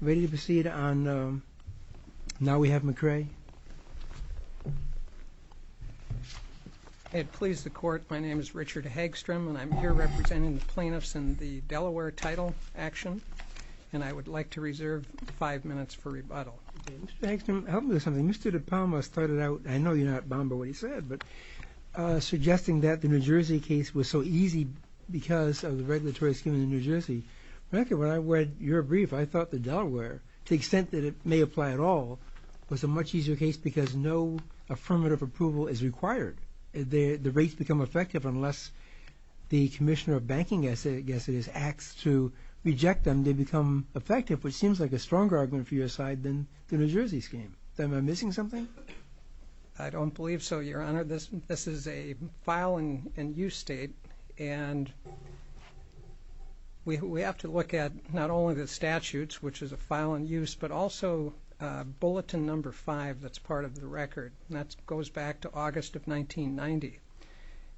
Ready to proceed on, um, now we have McCray. I please the court, my name is Richard Hagstrom and I'm here representing the plaintiffs in the Delaware Title Action and I would like to reserve five minutes for rebuttal. Mr. Hagstrom, help me with something. Mr. De Palma started out, I know you're not bound by what he said, but uh, suggesting that the New Jersey case was so easy because of the regulatory scheme in New Jersey. When I read your brief, I thought the Delaware, to the extent that it may apply at all, was a much easier case because no affirmative approval is required. The rates become effective unless the Commissioner of Banking, I guess it is, acts to reject them, they become effective, which seems like a stronger argument for your side than the New Jersey scheme. Am I missing something? I don't believe so, Your Honor. This is a file in use state and we have to look at not only the statutes, which is a file in use, but also bulletin number five that's part of the record. That goes back to August of 1990.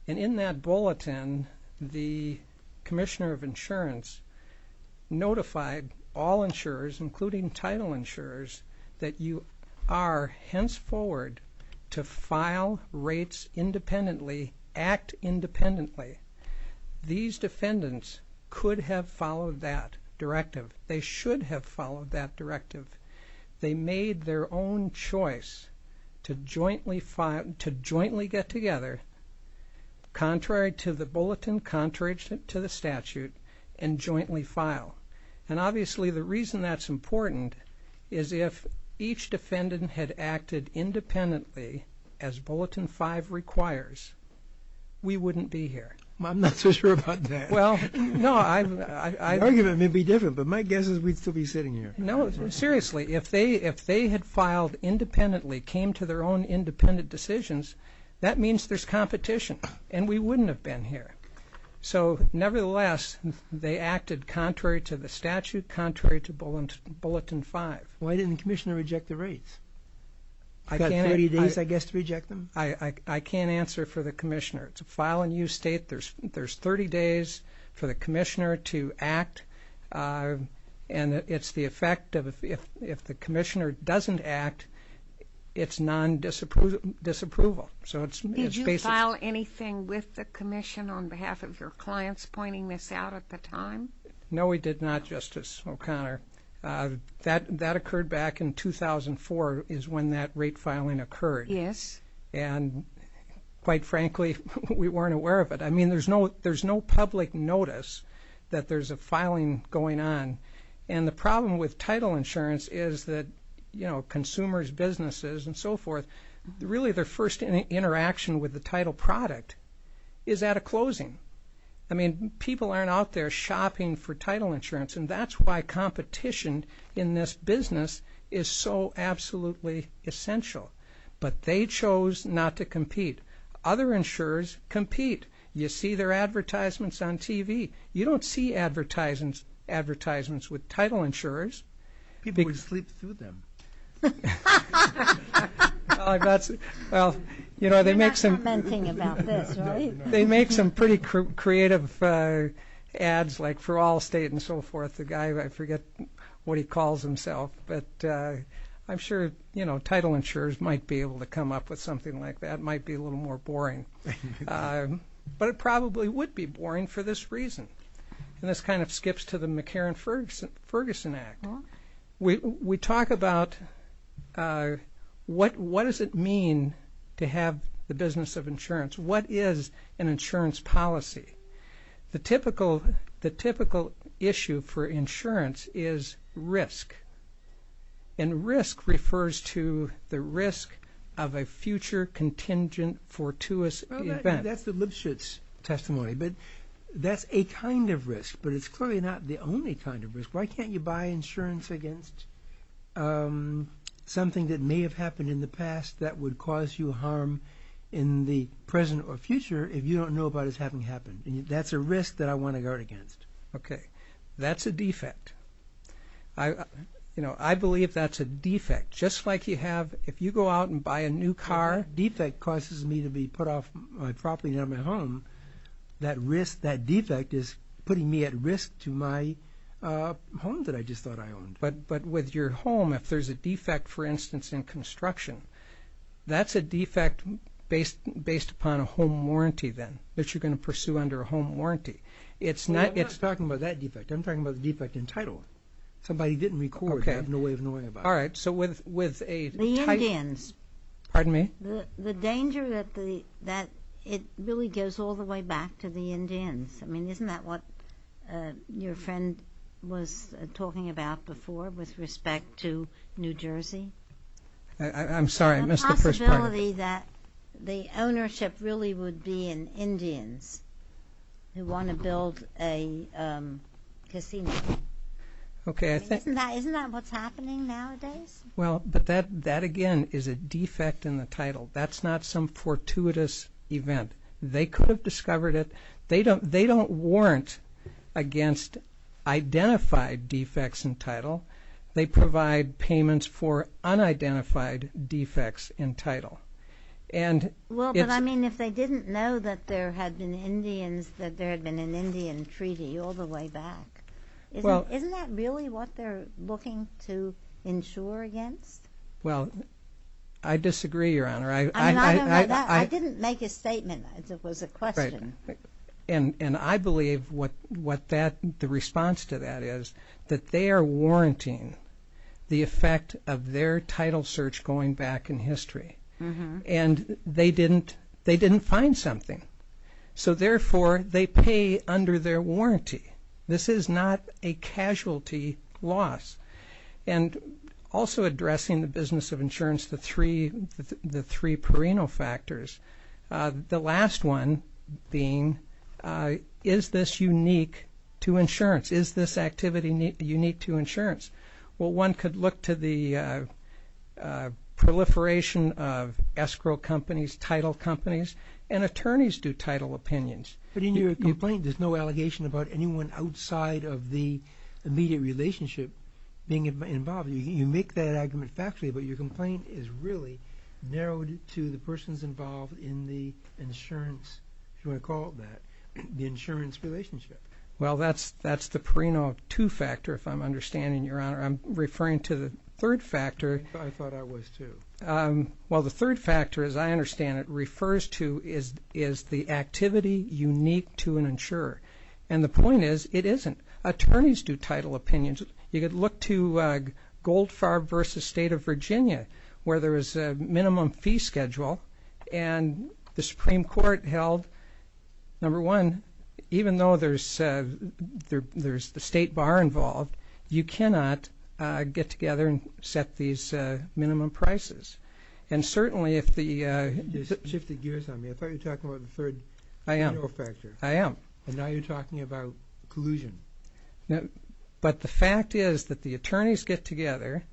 And in that bulletin, the Commissioner of Insurance notified all insurers, including title insurers, that you are henceforward to file rates independently, act independently. These defendants could have followed that directive. They should have followed that directive. They made their own choice to jointly get together, contrary to the bulletin, contrary to the statute, and jointly file. And obviously the reason that's important is if each defendant had acted independently, as bulletin five requires, we wouldn't be here. I'm not so sure about that. Well, no, I... The argument may be different, but my guess is we'd still be sitting here. No, seriously, if they had filed independently, came to their own independent decisions, that means there's competition and we wouldn't have been here. So nevertheless, they acted contrary to the statute, contrary to bulletin five. Why didn't the Commissioner reject the rates? He's got 30 days, I guess, to reject them? I can't answer for the Commissioner. It's a file in use state. There's 30 days for the Commissioner to act, and it's the effect of if the Commissioner doesn't act, it's non-disapproval. Did you file anything with the Commission on behalf of your clients pointing this out at the time? No, we did not, Justice O'Connor. That occurred back in 2004 is when that rate filing occurred. Yes. And quite frankly, we weren't aware of it. I mean, there's no public notice that there's a filing going on. And the problem with title insurance is that consumers, businesses, and so forth, really their first interaction with the title product is at a closing. I mean, people aren't out there shopping for title insurance, and that's why competition in this business is so absolutely essential. But they chose not to compete. Other insurers compete. You see their advertisements on TV. You don't see advertisements with title insurers. People would sleep through them. You're not commenting about this, right? They make some pretty creative ads like for all state and so forth. The guy, I forget what he calls himself. But I'm sure title insurers might be able to come up with something like that. It might be a little more boring. But it probably would be boring for this reason. And this kind of skips to the McCarran-Ferguson Act. We talk about what does it mean to have the business of insurance? What is an insurance policy? The typical issue for insurance is risk. And risk refers to the risk of a future contingent fortuitous event. That's the Lipschitz testimony, but that's a kind of risk. But it's clearly not the only kind of risk. Why can't you buy insurance against something that may have happened in the past that would cause you harm in the present or future if you don't know about it having happened? That's a risk that I want to guard against. Okay. That's a defect. I believe that's a defect. Just like you have if you go out and buy a new car, defect causes me to be put off my property, not my home. That defect is putting me at risk to my home that I just thought I owned. But with your home, if there's a defect, for instance, in construction, that's a defect based upon a home warranty then, that you're going to pursue under a home warranty. I'm not talking about that defect. I'm talking about the defect in title. Somebody didn't record. I have no way of knowing about it. All right. The Indians. Pardon me? The danger that it really goes all the way back to the Indians. I mean, isn't that what your friend was talking about before with respect to New Jersey? I'm sorry. I missed the first part. The ownership really would be in Indians who want to build a casino. Okay. Isn't that what's happening nowadays? Well, but that, again, is a defect in the title. That's not some fortuitous event. They could have discovered it. They don't warrant against identified defects in title. They provide payments for unidentified defects in title. Well, but, I mean, if they didn't know that there had been Indians, that there had been an Indian treaty all the way back, isn't that really what they're looking to insure against? Well, I disagree, Your Honor. It was a question. And I believe what the response to that is, that they are warranting the effect of their title search going back in history, and they didn't find something. So, therefore, they pay under their warranty. This is not a casualty loss. And also addressing the business of insurance, the three Perino factors, the last one being, is this unique to insurance? Is this activity unique to insurance? Well, one could look to the proliferation of escrow companies, title companies, and attorneys do title opinions. But in your complaint, there's no allegation about anyone outside of the immediate relationship being involved. You make that argument factually, but your complaint is really narrowed to the persons involved in the insurance, if you want to call it that, the insurance relationship. Well, that's the Perino 2 factor, if I'm understanding, Your Honor. I'm referring to the third factor. I thought I was, too. Well, the third factor, as I understand it, refers to is the activity unique to an insurer. And the point is, it isn't. Attorneys do title opinions. You could look to Goldfarb v. State of Virginia, where there was a minimum fee schedule, and the Supreme Court held, number one, even though there's the state bar involved, you cannot get together and set these minimum prices. And certainly if the… You just shifted gears on me. I thought you were talking about the third Perino factor. I am. And now you're talking about collusion. But the fact is that the attorneys get together.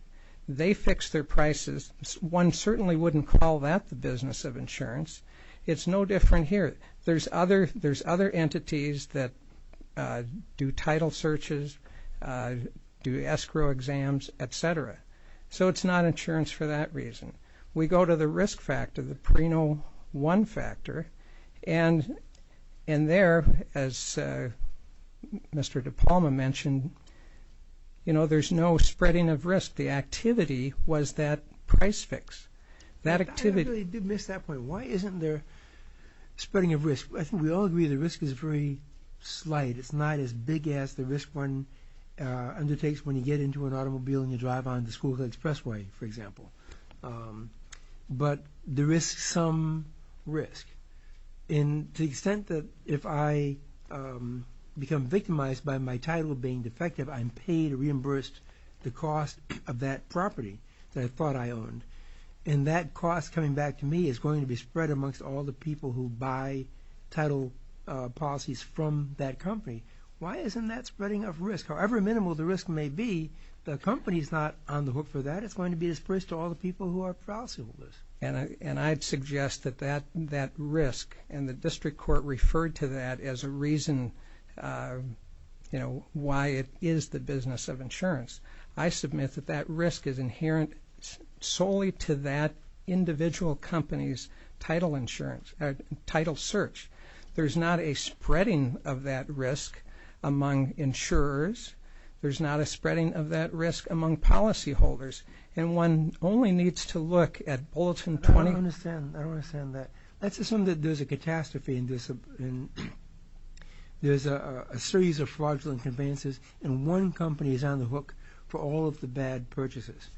They fix their prices. One certainly wouldn't call that the business of insurance. It's no different here. There's other entities that do title searches, do escrow exams, et cetera. So it's not insurance for that reason. We go to the risk factor, the Perino 1 factor, and there, as Mr. DePalma mentioned, there's no spreading of risk. The activity was that price fix. I really did miss that point. Why isn't there spreading of risk? I think we all agree the risk is very slight. It's not as big as the risk one undertakes when you get into an automobile and you drive on the school expressway, for example. But there is some risk. And to the extent that if I become victimized by my title being defective, I'm paid or reimbursed the cost of that property that I thought I owned. And that cost, coming back to me, is going to be spread amongst all the people who buy title policies from that company. Why isn't that spreading of risk? However minimal the risk may be, the company is not on the hook for that. It's going to be dispersed to all the people who are policyholders. And I'd suggest that that risk, and the district court referred to that as a reason why it is the business of insurance. I submit that that risk is inherent solely to that individual company's title search. There's not a spreading of that risk among insurers. There's not a spreading of that risk among policyholders. And one only needs to look at Bulletin 20. I don't understand. I don't understand that. Let's assume that there's a catastrophe and there's a series of fraudulent advances and one company is on the hook for all of the bad purchases.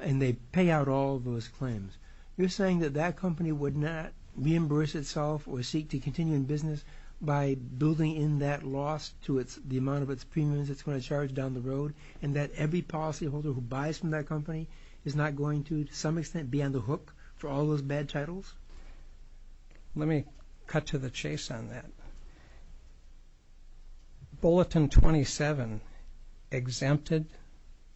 And they pay out all of those claims. You're saying that that company would not reimburse itself or seek to continue in business by building in that loss to the amount of its premiums it's going to charge down the road and that every policyholder who buys from that company is not going to, to some extent, be on the hook for all those bad titles? Let me cut to the chase on that. Bulletin 27 exempted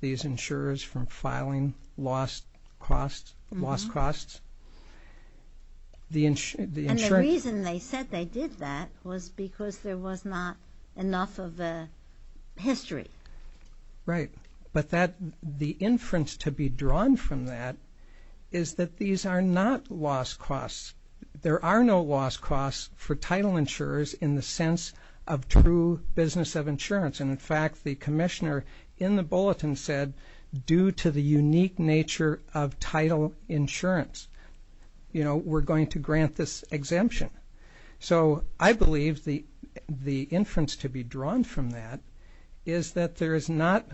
these insurers from filing lost costs. And the reason they said they did that was because there was not enough of a history. Right, but the inference to be drawn from that is that these are not lost costs. There are no lost costs for title insurers in the sense of true business of insurance. And, in fact, the commissioner in the bulletin said, due to the unique nature of title insurance, we're going to grant this exemption. So I believe the inference to be drawn from that is that there is not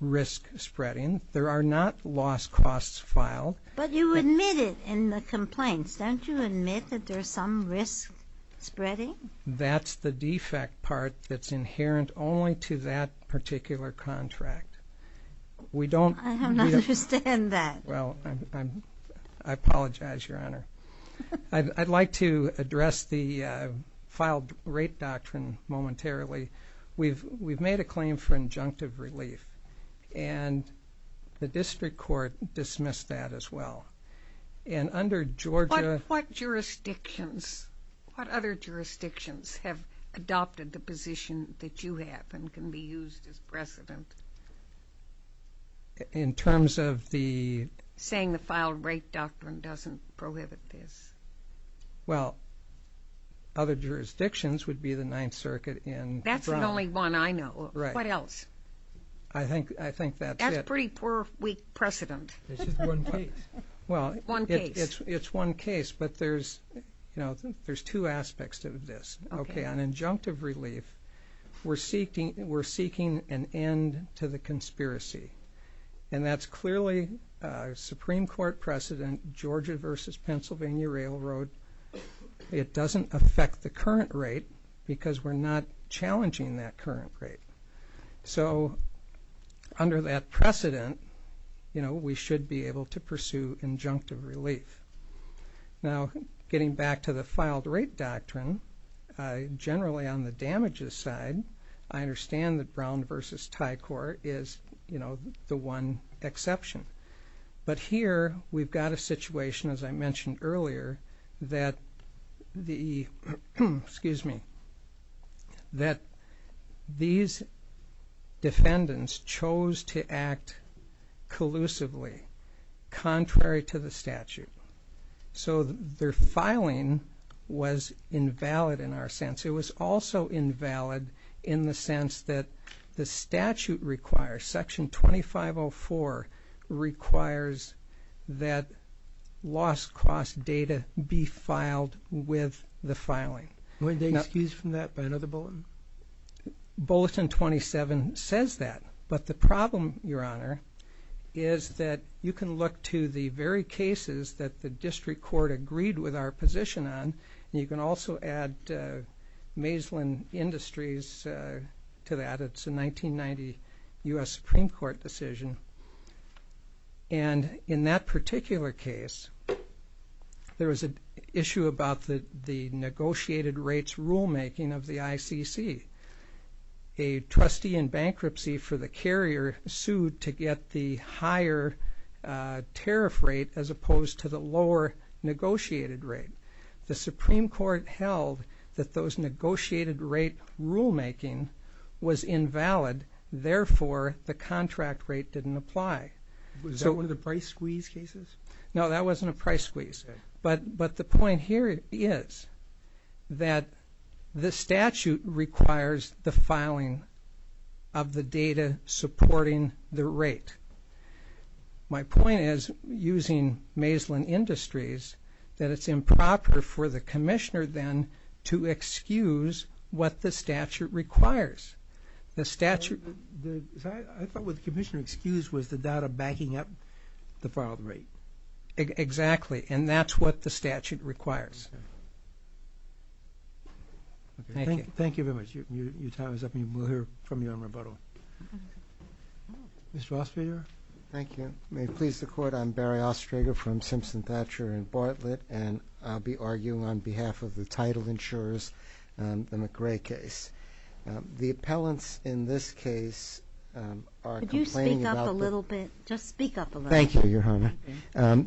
risk spreading. There are not lost costs filed. But you admit it in the complaints. Don't you admit that there's some risk spreading? That's the defect part that's inherent only to that particular contract. I don't understand that. Well, I apologize, Your Honor. I'd like to address the filed rate doctrine momentarily. We've made a claim for injunctive relief, and the district court dismissed that as well. What jurisdictions, what other jurisdictions have adopted the position that you have and can be used as precedent in terms of the ---- Saying the filed rate doctrine doesn't prohibit this. Well, other jurisdictions would be the Ninth Circuit and Brown. That's the only one I know. What else? I think that's it. That's pretty poor, weak precedent. It's just one case. Well, it's one case, but there's two aspects to this. Okay, on injunctive relief, we're seeking an end to the conspiracy, and that's clearly a Supreme Court precedent, Georgia v. Pennsylvania Railroad. It doesn't affect the current rate because we're not challenging that current rate. So under that precedent, you know, we should be able to pursue injunctive relief. Now, getting back to the filed rate doctrine, generally on the damages side, I understand that Brown v. Tycor is, you know, the one exception. But here we've got a situation, as I mentioned earlier, that the ---- defendants chose to act collusively contrary to the statute. So their filing was invalid in our sense. It was also invalid in the sense that the statute requires, Section 2504 requires that lost cost data be filed with the filing. Were they excused from that by another bulletin? Bulletin 27 says that, but the problem, Your Honor, is that you can look to the very cases that the district court agreed with our position on, and you can also add Maislin Industries to that. It's a 1990 U.S. Supreme Court decision. And in that particular case, there was an issue about the negotiated rates rulemaking of the ICC. A trustee in bankruptcy for the carrier sued to get the higher tariff rate as opposed to the lower negotiated rate. The Supreme Court held that those negotiated rate rulemaking was invalid. Therefore, the contract rate didn't apply. Was that one of the price squeeze cases? No, that wasn't a price squeeze. But the point here is that the statute requires the filing of the data supporting the rate. My point is, using Maislin Industries, that it's improper for the commissioner then to excuse what the statute requires. I thought what the commissioner excused was the data backing up the filed rate. Exactly, and that's what the statute requires. Thank you very much. Your time is up, and we'll hear from you on rebuttal. Mr. Ostrader? Thank you. May it please the Court, I'm Barry Ostrader from Simpson Thatcher in Bartlett, and I'll be arguing on behalf of the title insurers on the McRae case. The appellants in this case are complaining about the... Could you speak up a little bit? Just speak up a little bit. Thank you, Your Honor.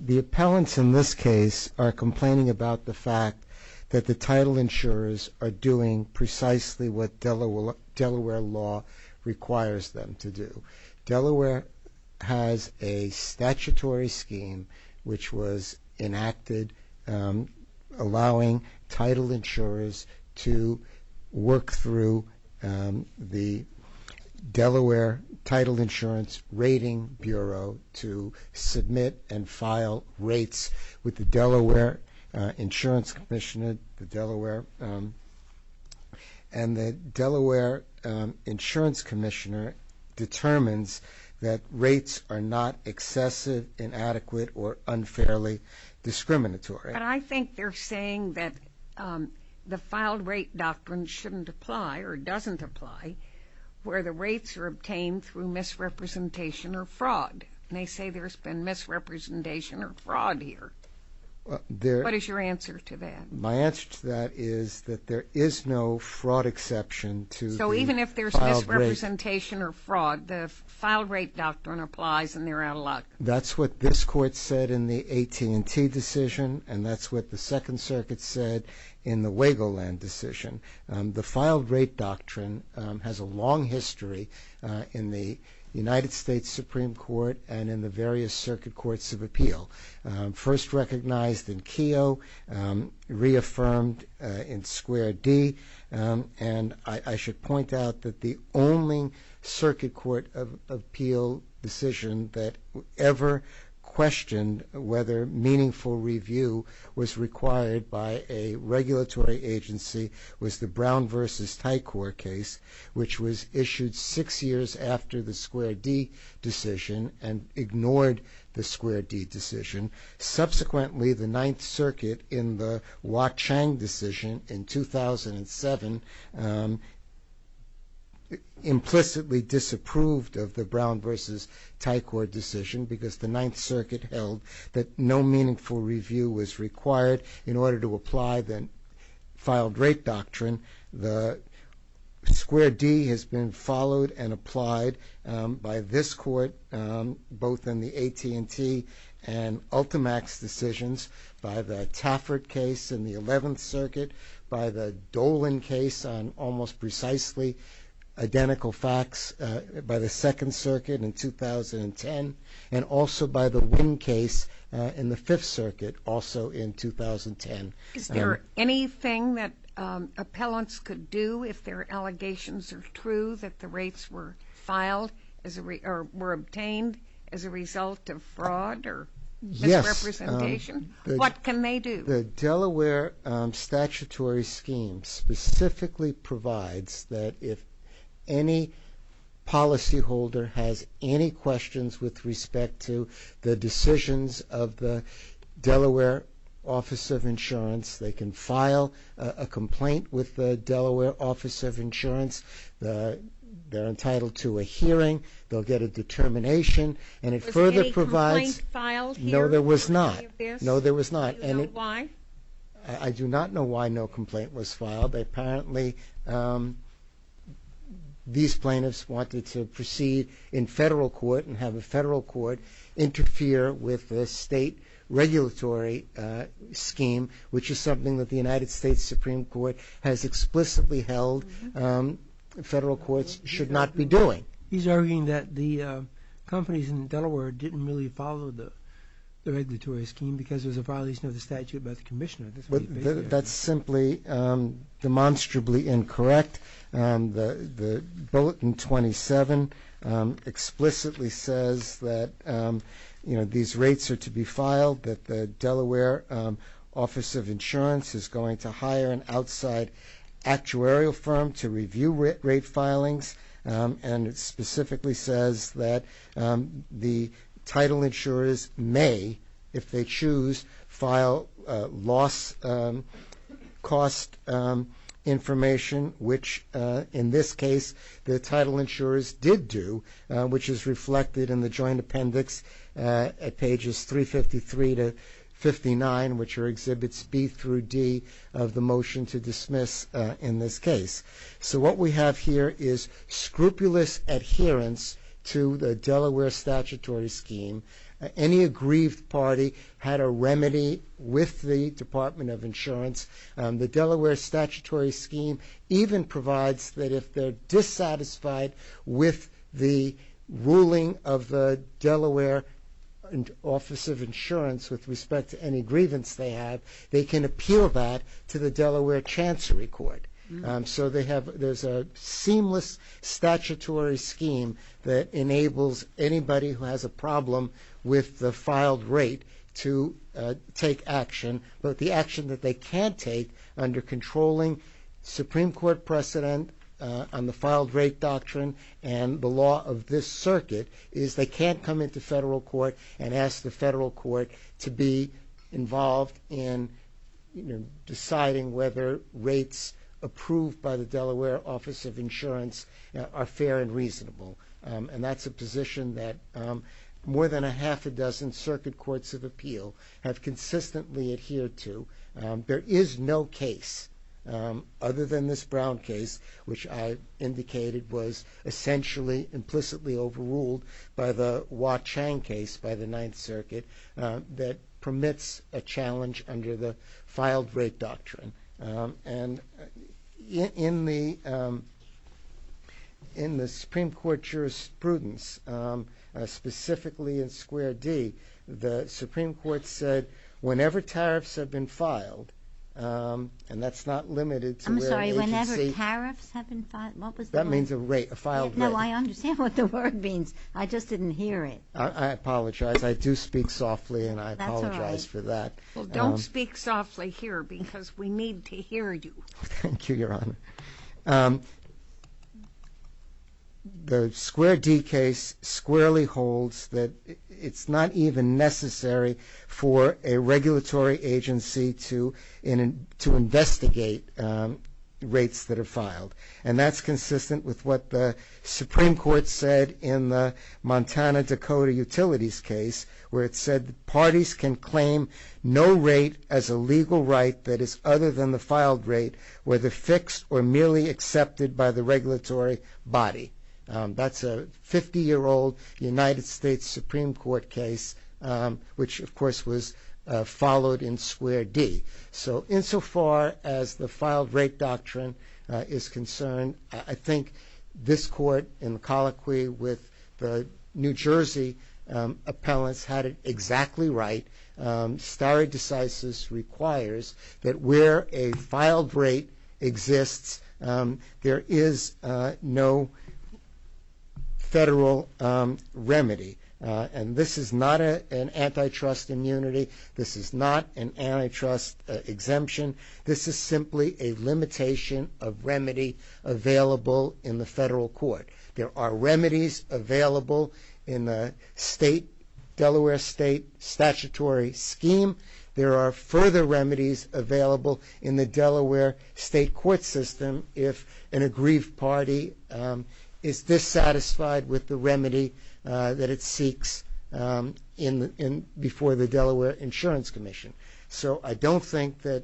The appellants in this case are complaining about the fact that the title insurers are doing precisely what Delaware law requires them to do. Delaware has a statutory scheme which was enacted allowing title insurers to work through the Delaware Title Insurance Rating Bureau to submit and file rates with the Delaware Insurance Commissioner, and the Delaware Insurance Commissioner determines that rates are not excessive, inadequate, or unfairly discriminatory. But I think they're saying that the filed rate doctrine shouldn't apply or doesn't apply where the rates are obtained through misrepresentation or fraud, and they say there's been misrepresentation or fraud here. What is your answer to that? My answer to that is that there is no fraud exception to the filed rate... So even if there's misrepresentation or fraud, the filed rate doctrine applies and they're out of luck. That's what this Court said in the AT&T decision, and that's what the Second Circuit said in the Wagoland decision. The filed rate doctrine has a long history in the United States Supreme Court and in the various circuit courts of appeal. First recognized in Keogh, reaffirmed in Square D, and I should point out that the only circuit court of appeal decision that ever questioned whether meaningful review was required by a regulatory agency was the Brown v. Tycor case, which was issued six years after the Square D decision and ignored the Square D decision. Subsequently, the Ninth Circuit in the Wa-Chang decision in 2007 implicitly disapproved of the Brown v. Tycor decision because the Ninth Circuit held that no meaningful review was required in order to apply the filed rate doctrine. The Square D has been followed and applied by this Court, both in the AT&T and Ultimax decisions, by the Taffert case in the Eleventh Circuit, by the Dolan case on almost precisely identical facts, by the Second Circuit in 2010, and also by the Winn case in the Fifth Circuit, also in 2010. Is there anything that appellants could do if their allegations are true that the rates were obtained as a result of fraud or misrepresentation? Yes. What can they do? The Delaware statutory scheme specifically provides that if any policyholder has any questions with respect to the decisions of the Delaware Office of Insurance, they can file a complaint with the Delaware Office of Insurance. They're entitled to a hearing. They'll get a determination. Was any complaint filed here? No, there was not. No, there was not. Do you know why? I do not know why no complaint was filed. Apparently, these plaintiffs wanted to proceed in federal court and have a federal court interfere with the state regulatory scheme, which is something that the United States Supreme Court has explicitly held federal courts should not be doing. He's arguing that the companies in Delaware didn't really follow the regulatory scheme because there's a violation of the statute by the commissioner. That's simply demonstrably incorrect. The Bulletin 27 explicitly says that these rates are to be filed, that the Delaware Office of Insurance is going to hire an outside actuarial firm to review rate filings, and it specifically says that the title insurers may, if they choose, file loss cost information, which in this case the title insurers did do, which is reflected in the joint appendix at pages 353 to 59, which exhibits B through D of the motion to dismiss in this case. So what we have here is scrupulous adherence to the Delaware statutory scheme. Any aggrieved party had a remedy with the Department of Insurance. The Delaware statutory scheme even provides that if they're dissatisfied with the ruling of the Delaware Office of Insurance with respect to any grievance they have, they can appeal that to the Delaware Chancery Court. So there's a seamless statutory scheme that enables anybody who has a problem with the filed rate to take action. But the action that they can't take under controlling Supreme Court precedent on the filed rate doctrine and the law of this circuit is they can't come into federal court and ask the federal court to be involved in deciding whether rates approved by the Delaware Office of Insurance are fair and reasonable. And that's a position that more than a half a dozen circuit courts of appeal have consistently adhered to. There is no case other than this Brown case, which I indicated was essentially implicitly overruled by the Wah Chang case by the Ninth Circuit that permits a challenge under the filed rate doctrine. And in the Supreme Court jurisprudence, specifically in Square D, the Supreme Court said whenever tariffs have been filed, and that's not limited to where the agency... I'm sorry, whenever tariffs have been filed? That means a rate, a filed rate. No, I understand what the word means. I just didn't hear it. I apologize. I do speak softly and I apologize for that. Well, don't speak softly here because we need to hear you. Thank you, Your Honor. The Square D case squarely holds that it's not even necessary for a regulatory agency to investigate rates that are filed. And that's consistent with what the Supreme Court said in the Montana-Dakota Utilities case where it said parties can claim no rate as a legal right that is other than the filed rate, whether fixed or merely accepted by the regulatory body. That's a 50-year-old United States Supreme Court case, which of course was followed in Square D. So insofar as the filed rate doctrine is concerned, I think this Court in colloquy with the New Jersey appellants had it exactly right. Stare decisis requires that where a filed rate exists, there is no federal remedy. And this is not an antitrust immunity. This is not an antitrust exemption. This is simply a limitation of remedy available in the federal court. There are remedies available in the Delaware State statutory scheme. There are further remedies available in the Delaware State court system if an aggrieved party is dissatisfied with the remedy that it seeks before the Delaware Insurance Commission. So I don't think that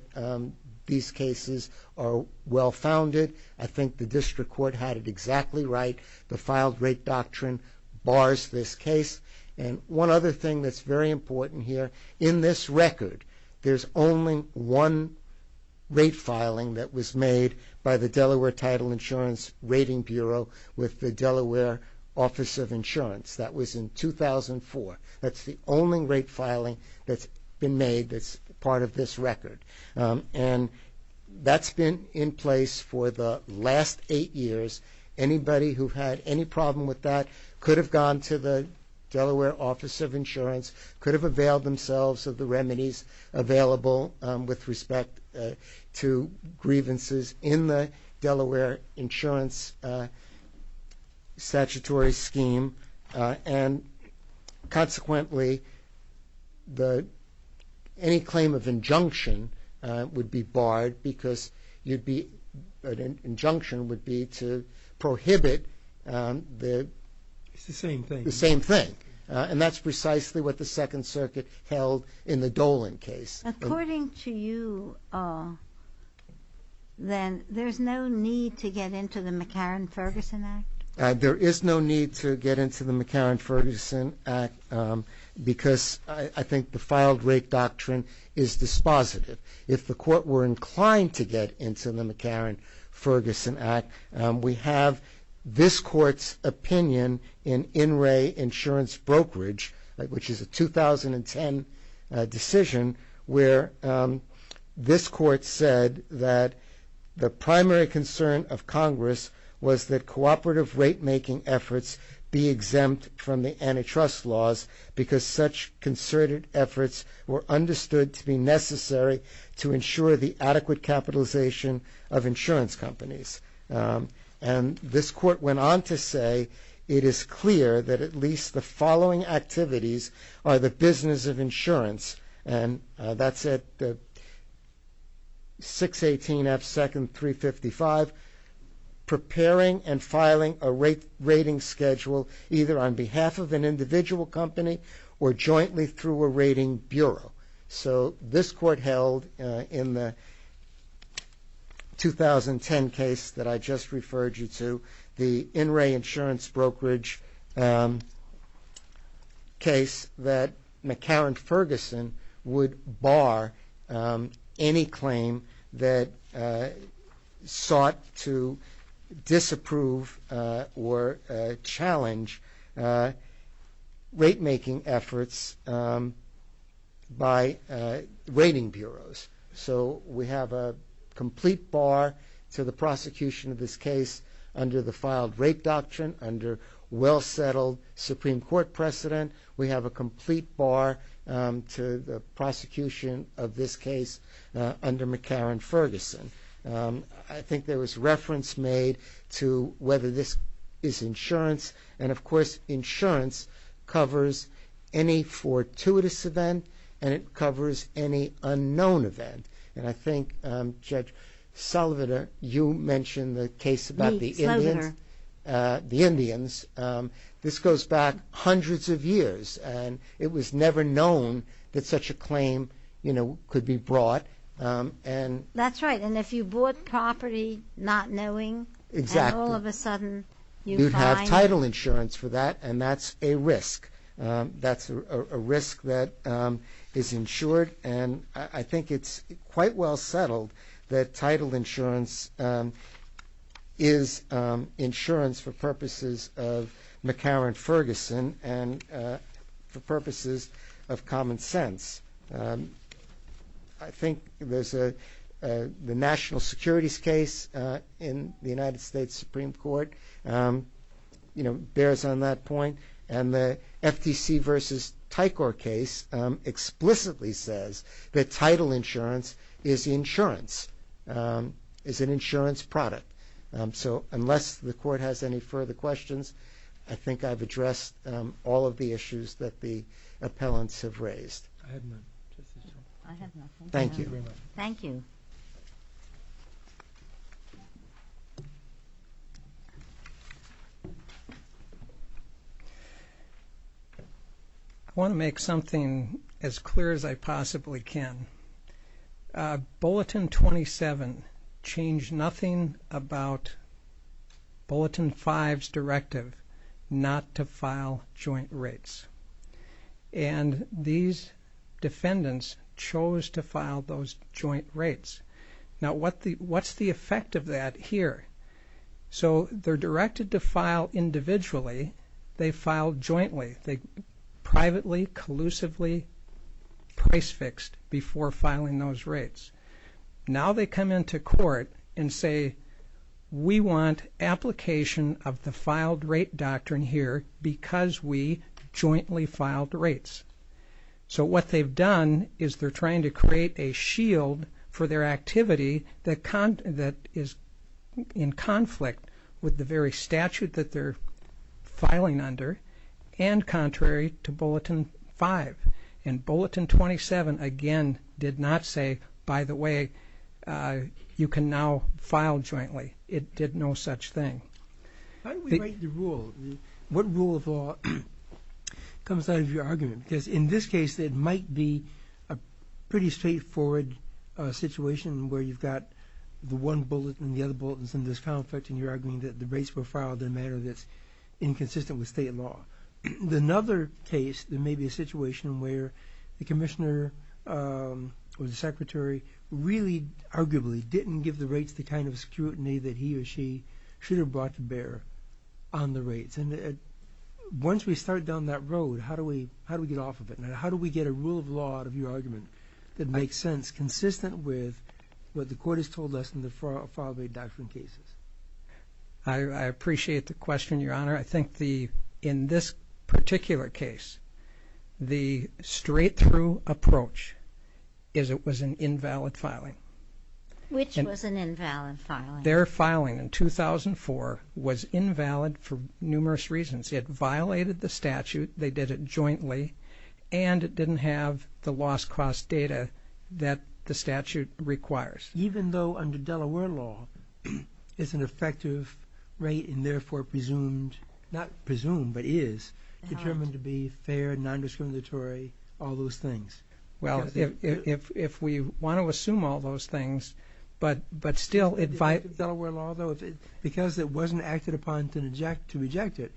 these cases are well-founded. I think the district court had it exactly right. The filed rate doctrine bars this case. And one other thing that's very important here, in this record there's only one rate filing that was made by the Delaware Title Insurance Rating Bureau with the Delaware Office of Insurance. That was in 2004. That's the only rate filing that's been made that's part of this record. And that's been in place for the last eight years. Anybody who had any problem with that could have gone to the Delaware Office of Insurance, could have availed themselves of the remedies available with respect to grievances in the Delaware Insurance statutory scheme and consequently any claim of injunction would be barred because an injunction would be to prohibit the same thing. And that's precisely what the Second Circuit held in the Dolan case. According to you, then, there's no need to get into the McCarran-Ferguson Act? There is no need to get into the McCarran-Ferguson Act because I think the filed rate doctrine is dispositive. If the court were inclined to get into the McCarran-Ferguson Act, we have this court's opinion in In Re Insurance Brokerage, which is a 2010 decision, where this court said that the primary concern of Congress was that cooperative rate-making efforts be exempt from the antitrust laws because such concerted efforts were understood to be necessary to ensure the adequate capitalization of insurance companies. And this court went on to say, it is clear that at least the following activities are the business of insurance. And that's at 618 F. Second, 355, preparing and filing a rating schedule either on behalf of an individual company or jointly through a rating bureau. So this court held in the 2010 case that I just referred you to, the In Re Insurance Brokerage case, that McCarran-Ferguson would bar any claim that sought to disapprove or challenge rate-making efforts by rating bureaus. So we have a complete bar to the prosecution of this case under the Filed Rape Doctrine, under well-settled Supreme Court precedent. We have a complete bar to the prosecution of this case under McCarran-Ferguson. I think there was reference made to whether this is insurance, and of course insurance covers any fortuitous event and it covers any unknown event. And I think, Judge Sullivan, you mentioned the case about the Indians. This goes back hundreds of years, and it was never known that such a claim could be brought. That's right, and if you bought property not knowing, and all of a sudden you'd have title insurance for that, and that's a risk. That's a risk that is insured, and I think it's quite well settled that title insurance is insurance for purposes of McCarran-Ferguson and for purposes of common sense. I think there's the national securities case in the United States Supreme Court bears on that point, and the FTC v. Tycor case explicitly says that title insurance is insurance, is an insurance product. So unless the Court has any further questions, I think I've addressed all of the issues that the appellants have raised. Thank you. Thank you very much. Thank you. I want to make something as clear as I possibly can. Bulletin 27 changed nothing about Bulletin 5's directive not to file joint rates, and these defendants chose to file those joint rates. Now, what's the effect of that here? So they're directed to file individually. They file jointly. They privately, collusively, price-fixed before filing those rates. Now they come into court and say, we want application of the filed rate doctrine here because we jointly filed rates. So what they've done is they're trying to create a shield for their activity that is in conflict with the very statute that they're filing under and contrary to Bulletin 5. And Bulletin 27, again, did not say, by the way, you can now file jointly. It did no such thing. How do we write the rule? What rule of law comes out of your argument? Because in this case, it might be a pretty straightforward situation where you've got the one bulletin and the other bulletin and there's conflict and you're arguing that the rates were filed in a manner that's inconsistent with state law. In another case, there may be a situation where the commissioner or the secretary really arguably didn't give the rates the kind of scrutiny that he or she should have brought to bear on the rates. And once we start down that road, how do we get off of it? How do we get a rule of law out of your argument that makes sense consistent with what the court has told us in the filed rate doctrine cases? I appreciate the question, Your Honor. I think in this particular case, the straight-through approach is it was an invalid filing. Which was an invalid filing? Their filing in 2004 was invalid for numerous reasons. It violated the statute. They did it jointly. And it didn't have the loss-cost data that the statute requires. Even though under Delaware law, it's an effective rate and therefore presumed, not presumed, but is determined to be fair, non-discriminatory, all those things. Well, if we want to assume all those things, but still... In Delaware law, though, because it wasn't acted upon to reject it,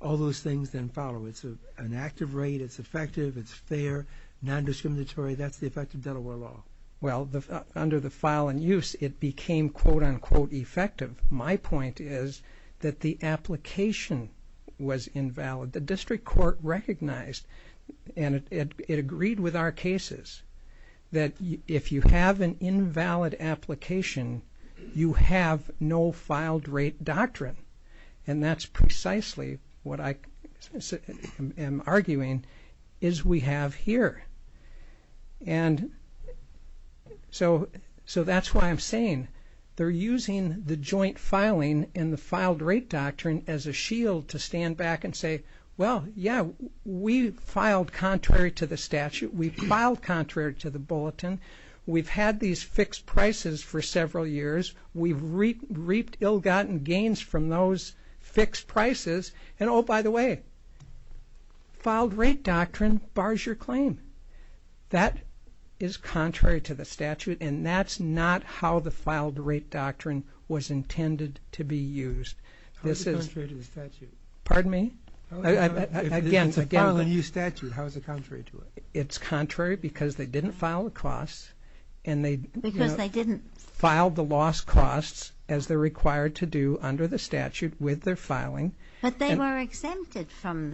all those things then follow. It's an active rate. It's effective. It's fair, non-discriminatory. That's the effect of Delaware law. Well, under the file in use, it became quote-unquote effective. My point is that the application was invalid. The district court recognized, and it agreed with our cases, that if you have an invalid application, you have no filed-rate doctrine. And that's precisely what I am arguing is we have here. And so that's why I'm saying they're using the joint filing and the filed-rate doctrine as a shield to stand back and say, well, yeah, we filed contrary to the statute. We filed contrary to the bulletin. We've had these fixed prices for several years. We've reaped ill-gotten gains from those fixed prices. And, oh, by the way, filed-rate doctrine bars your claim. That is contrary to the statute, and that's not how the filed-rate doctrine was intended to be used. How is it contrary to the statute? Pardon me? If it's a filed-in-use statute, how is it contrary to it? It's contrary because they didn't file the costs. Because they didn't? And they filed the lost costs as they're required to do under the statute with their filing. But they were exempted from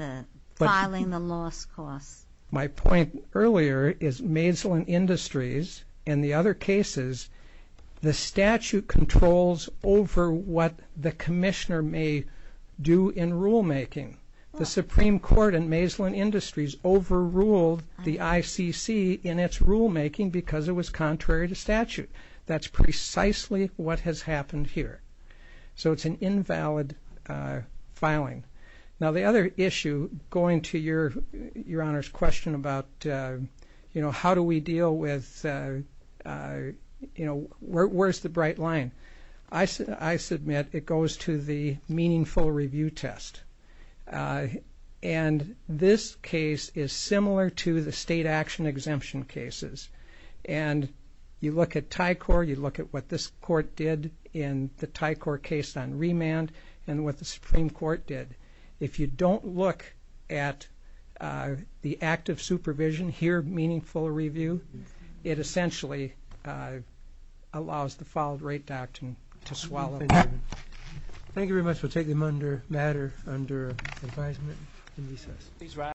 filing the lost costs. My point earlier is Maeslin Industries and the other cases, the statute controls over what the commissioner may do in rulemaking. The Supreme Court in Maeslin Industries overruled the ICC in its rulemaking because it was contrary to statute. That's precisely what has happened here. So it's an invalid filing. Now, the other issue going to Your Honor's question about, you know, how do we deal with, you know, where's the bright line? I submit it goes to the meaningful review test. And this case is similar to the state action exemption cases. And you look at TICOR, you look at what this court did in the TICOR case on If you don't look at the active supervision, hear meaningful review, it essentially allows the filed rate doctrine to swallow. Thank you very much. We'll take them under matter under advisement and recess.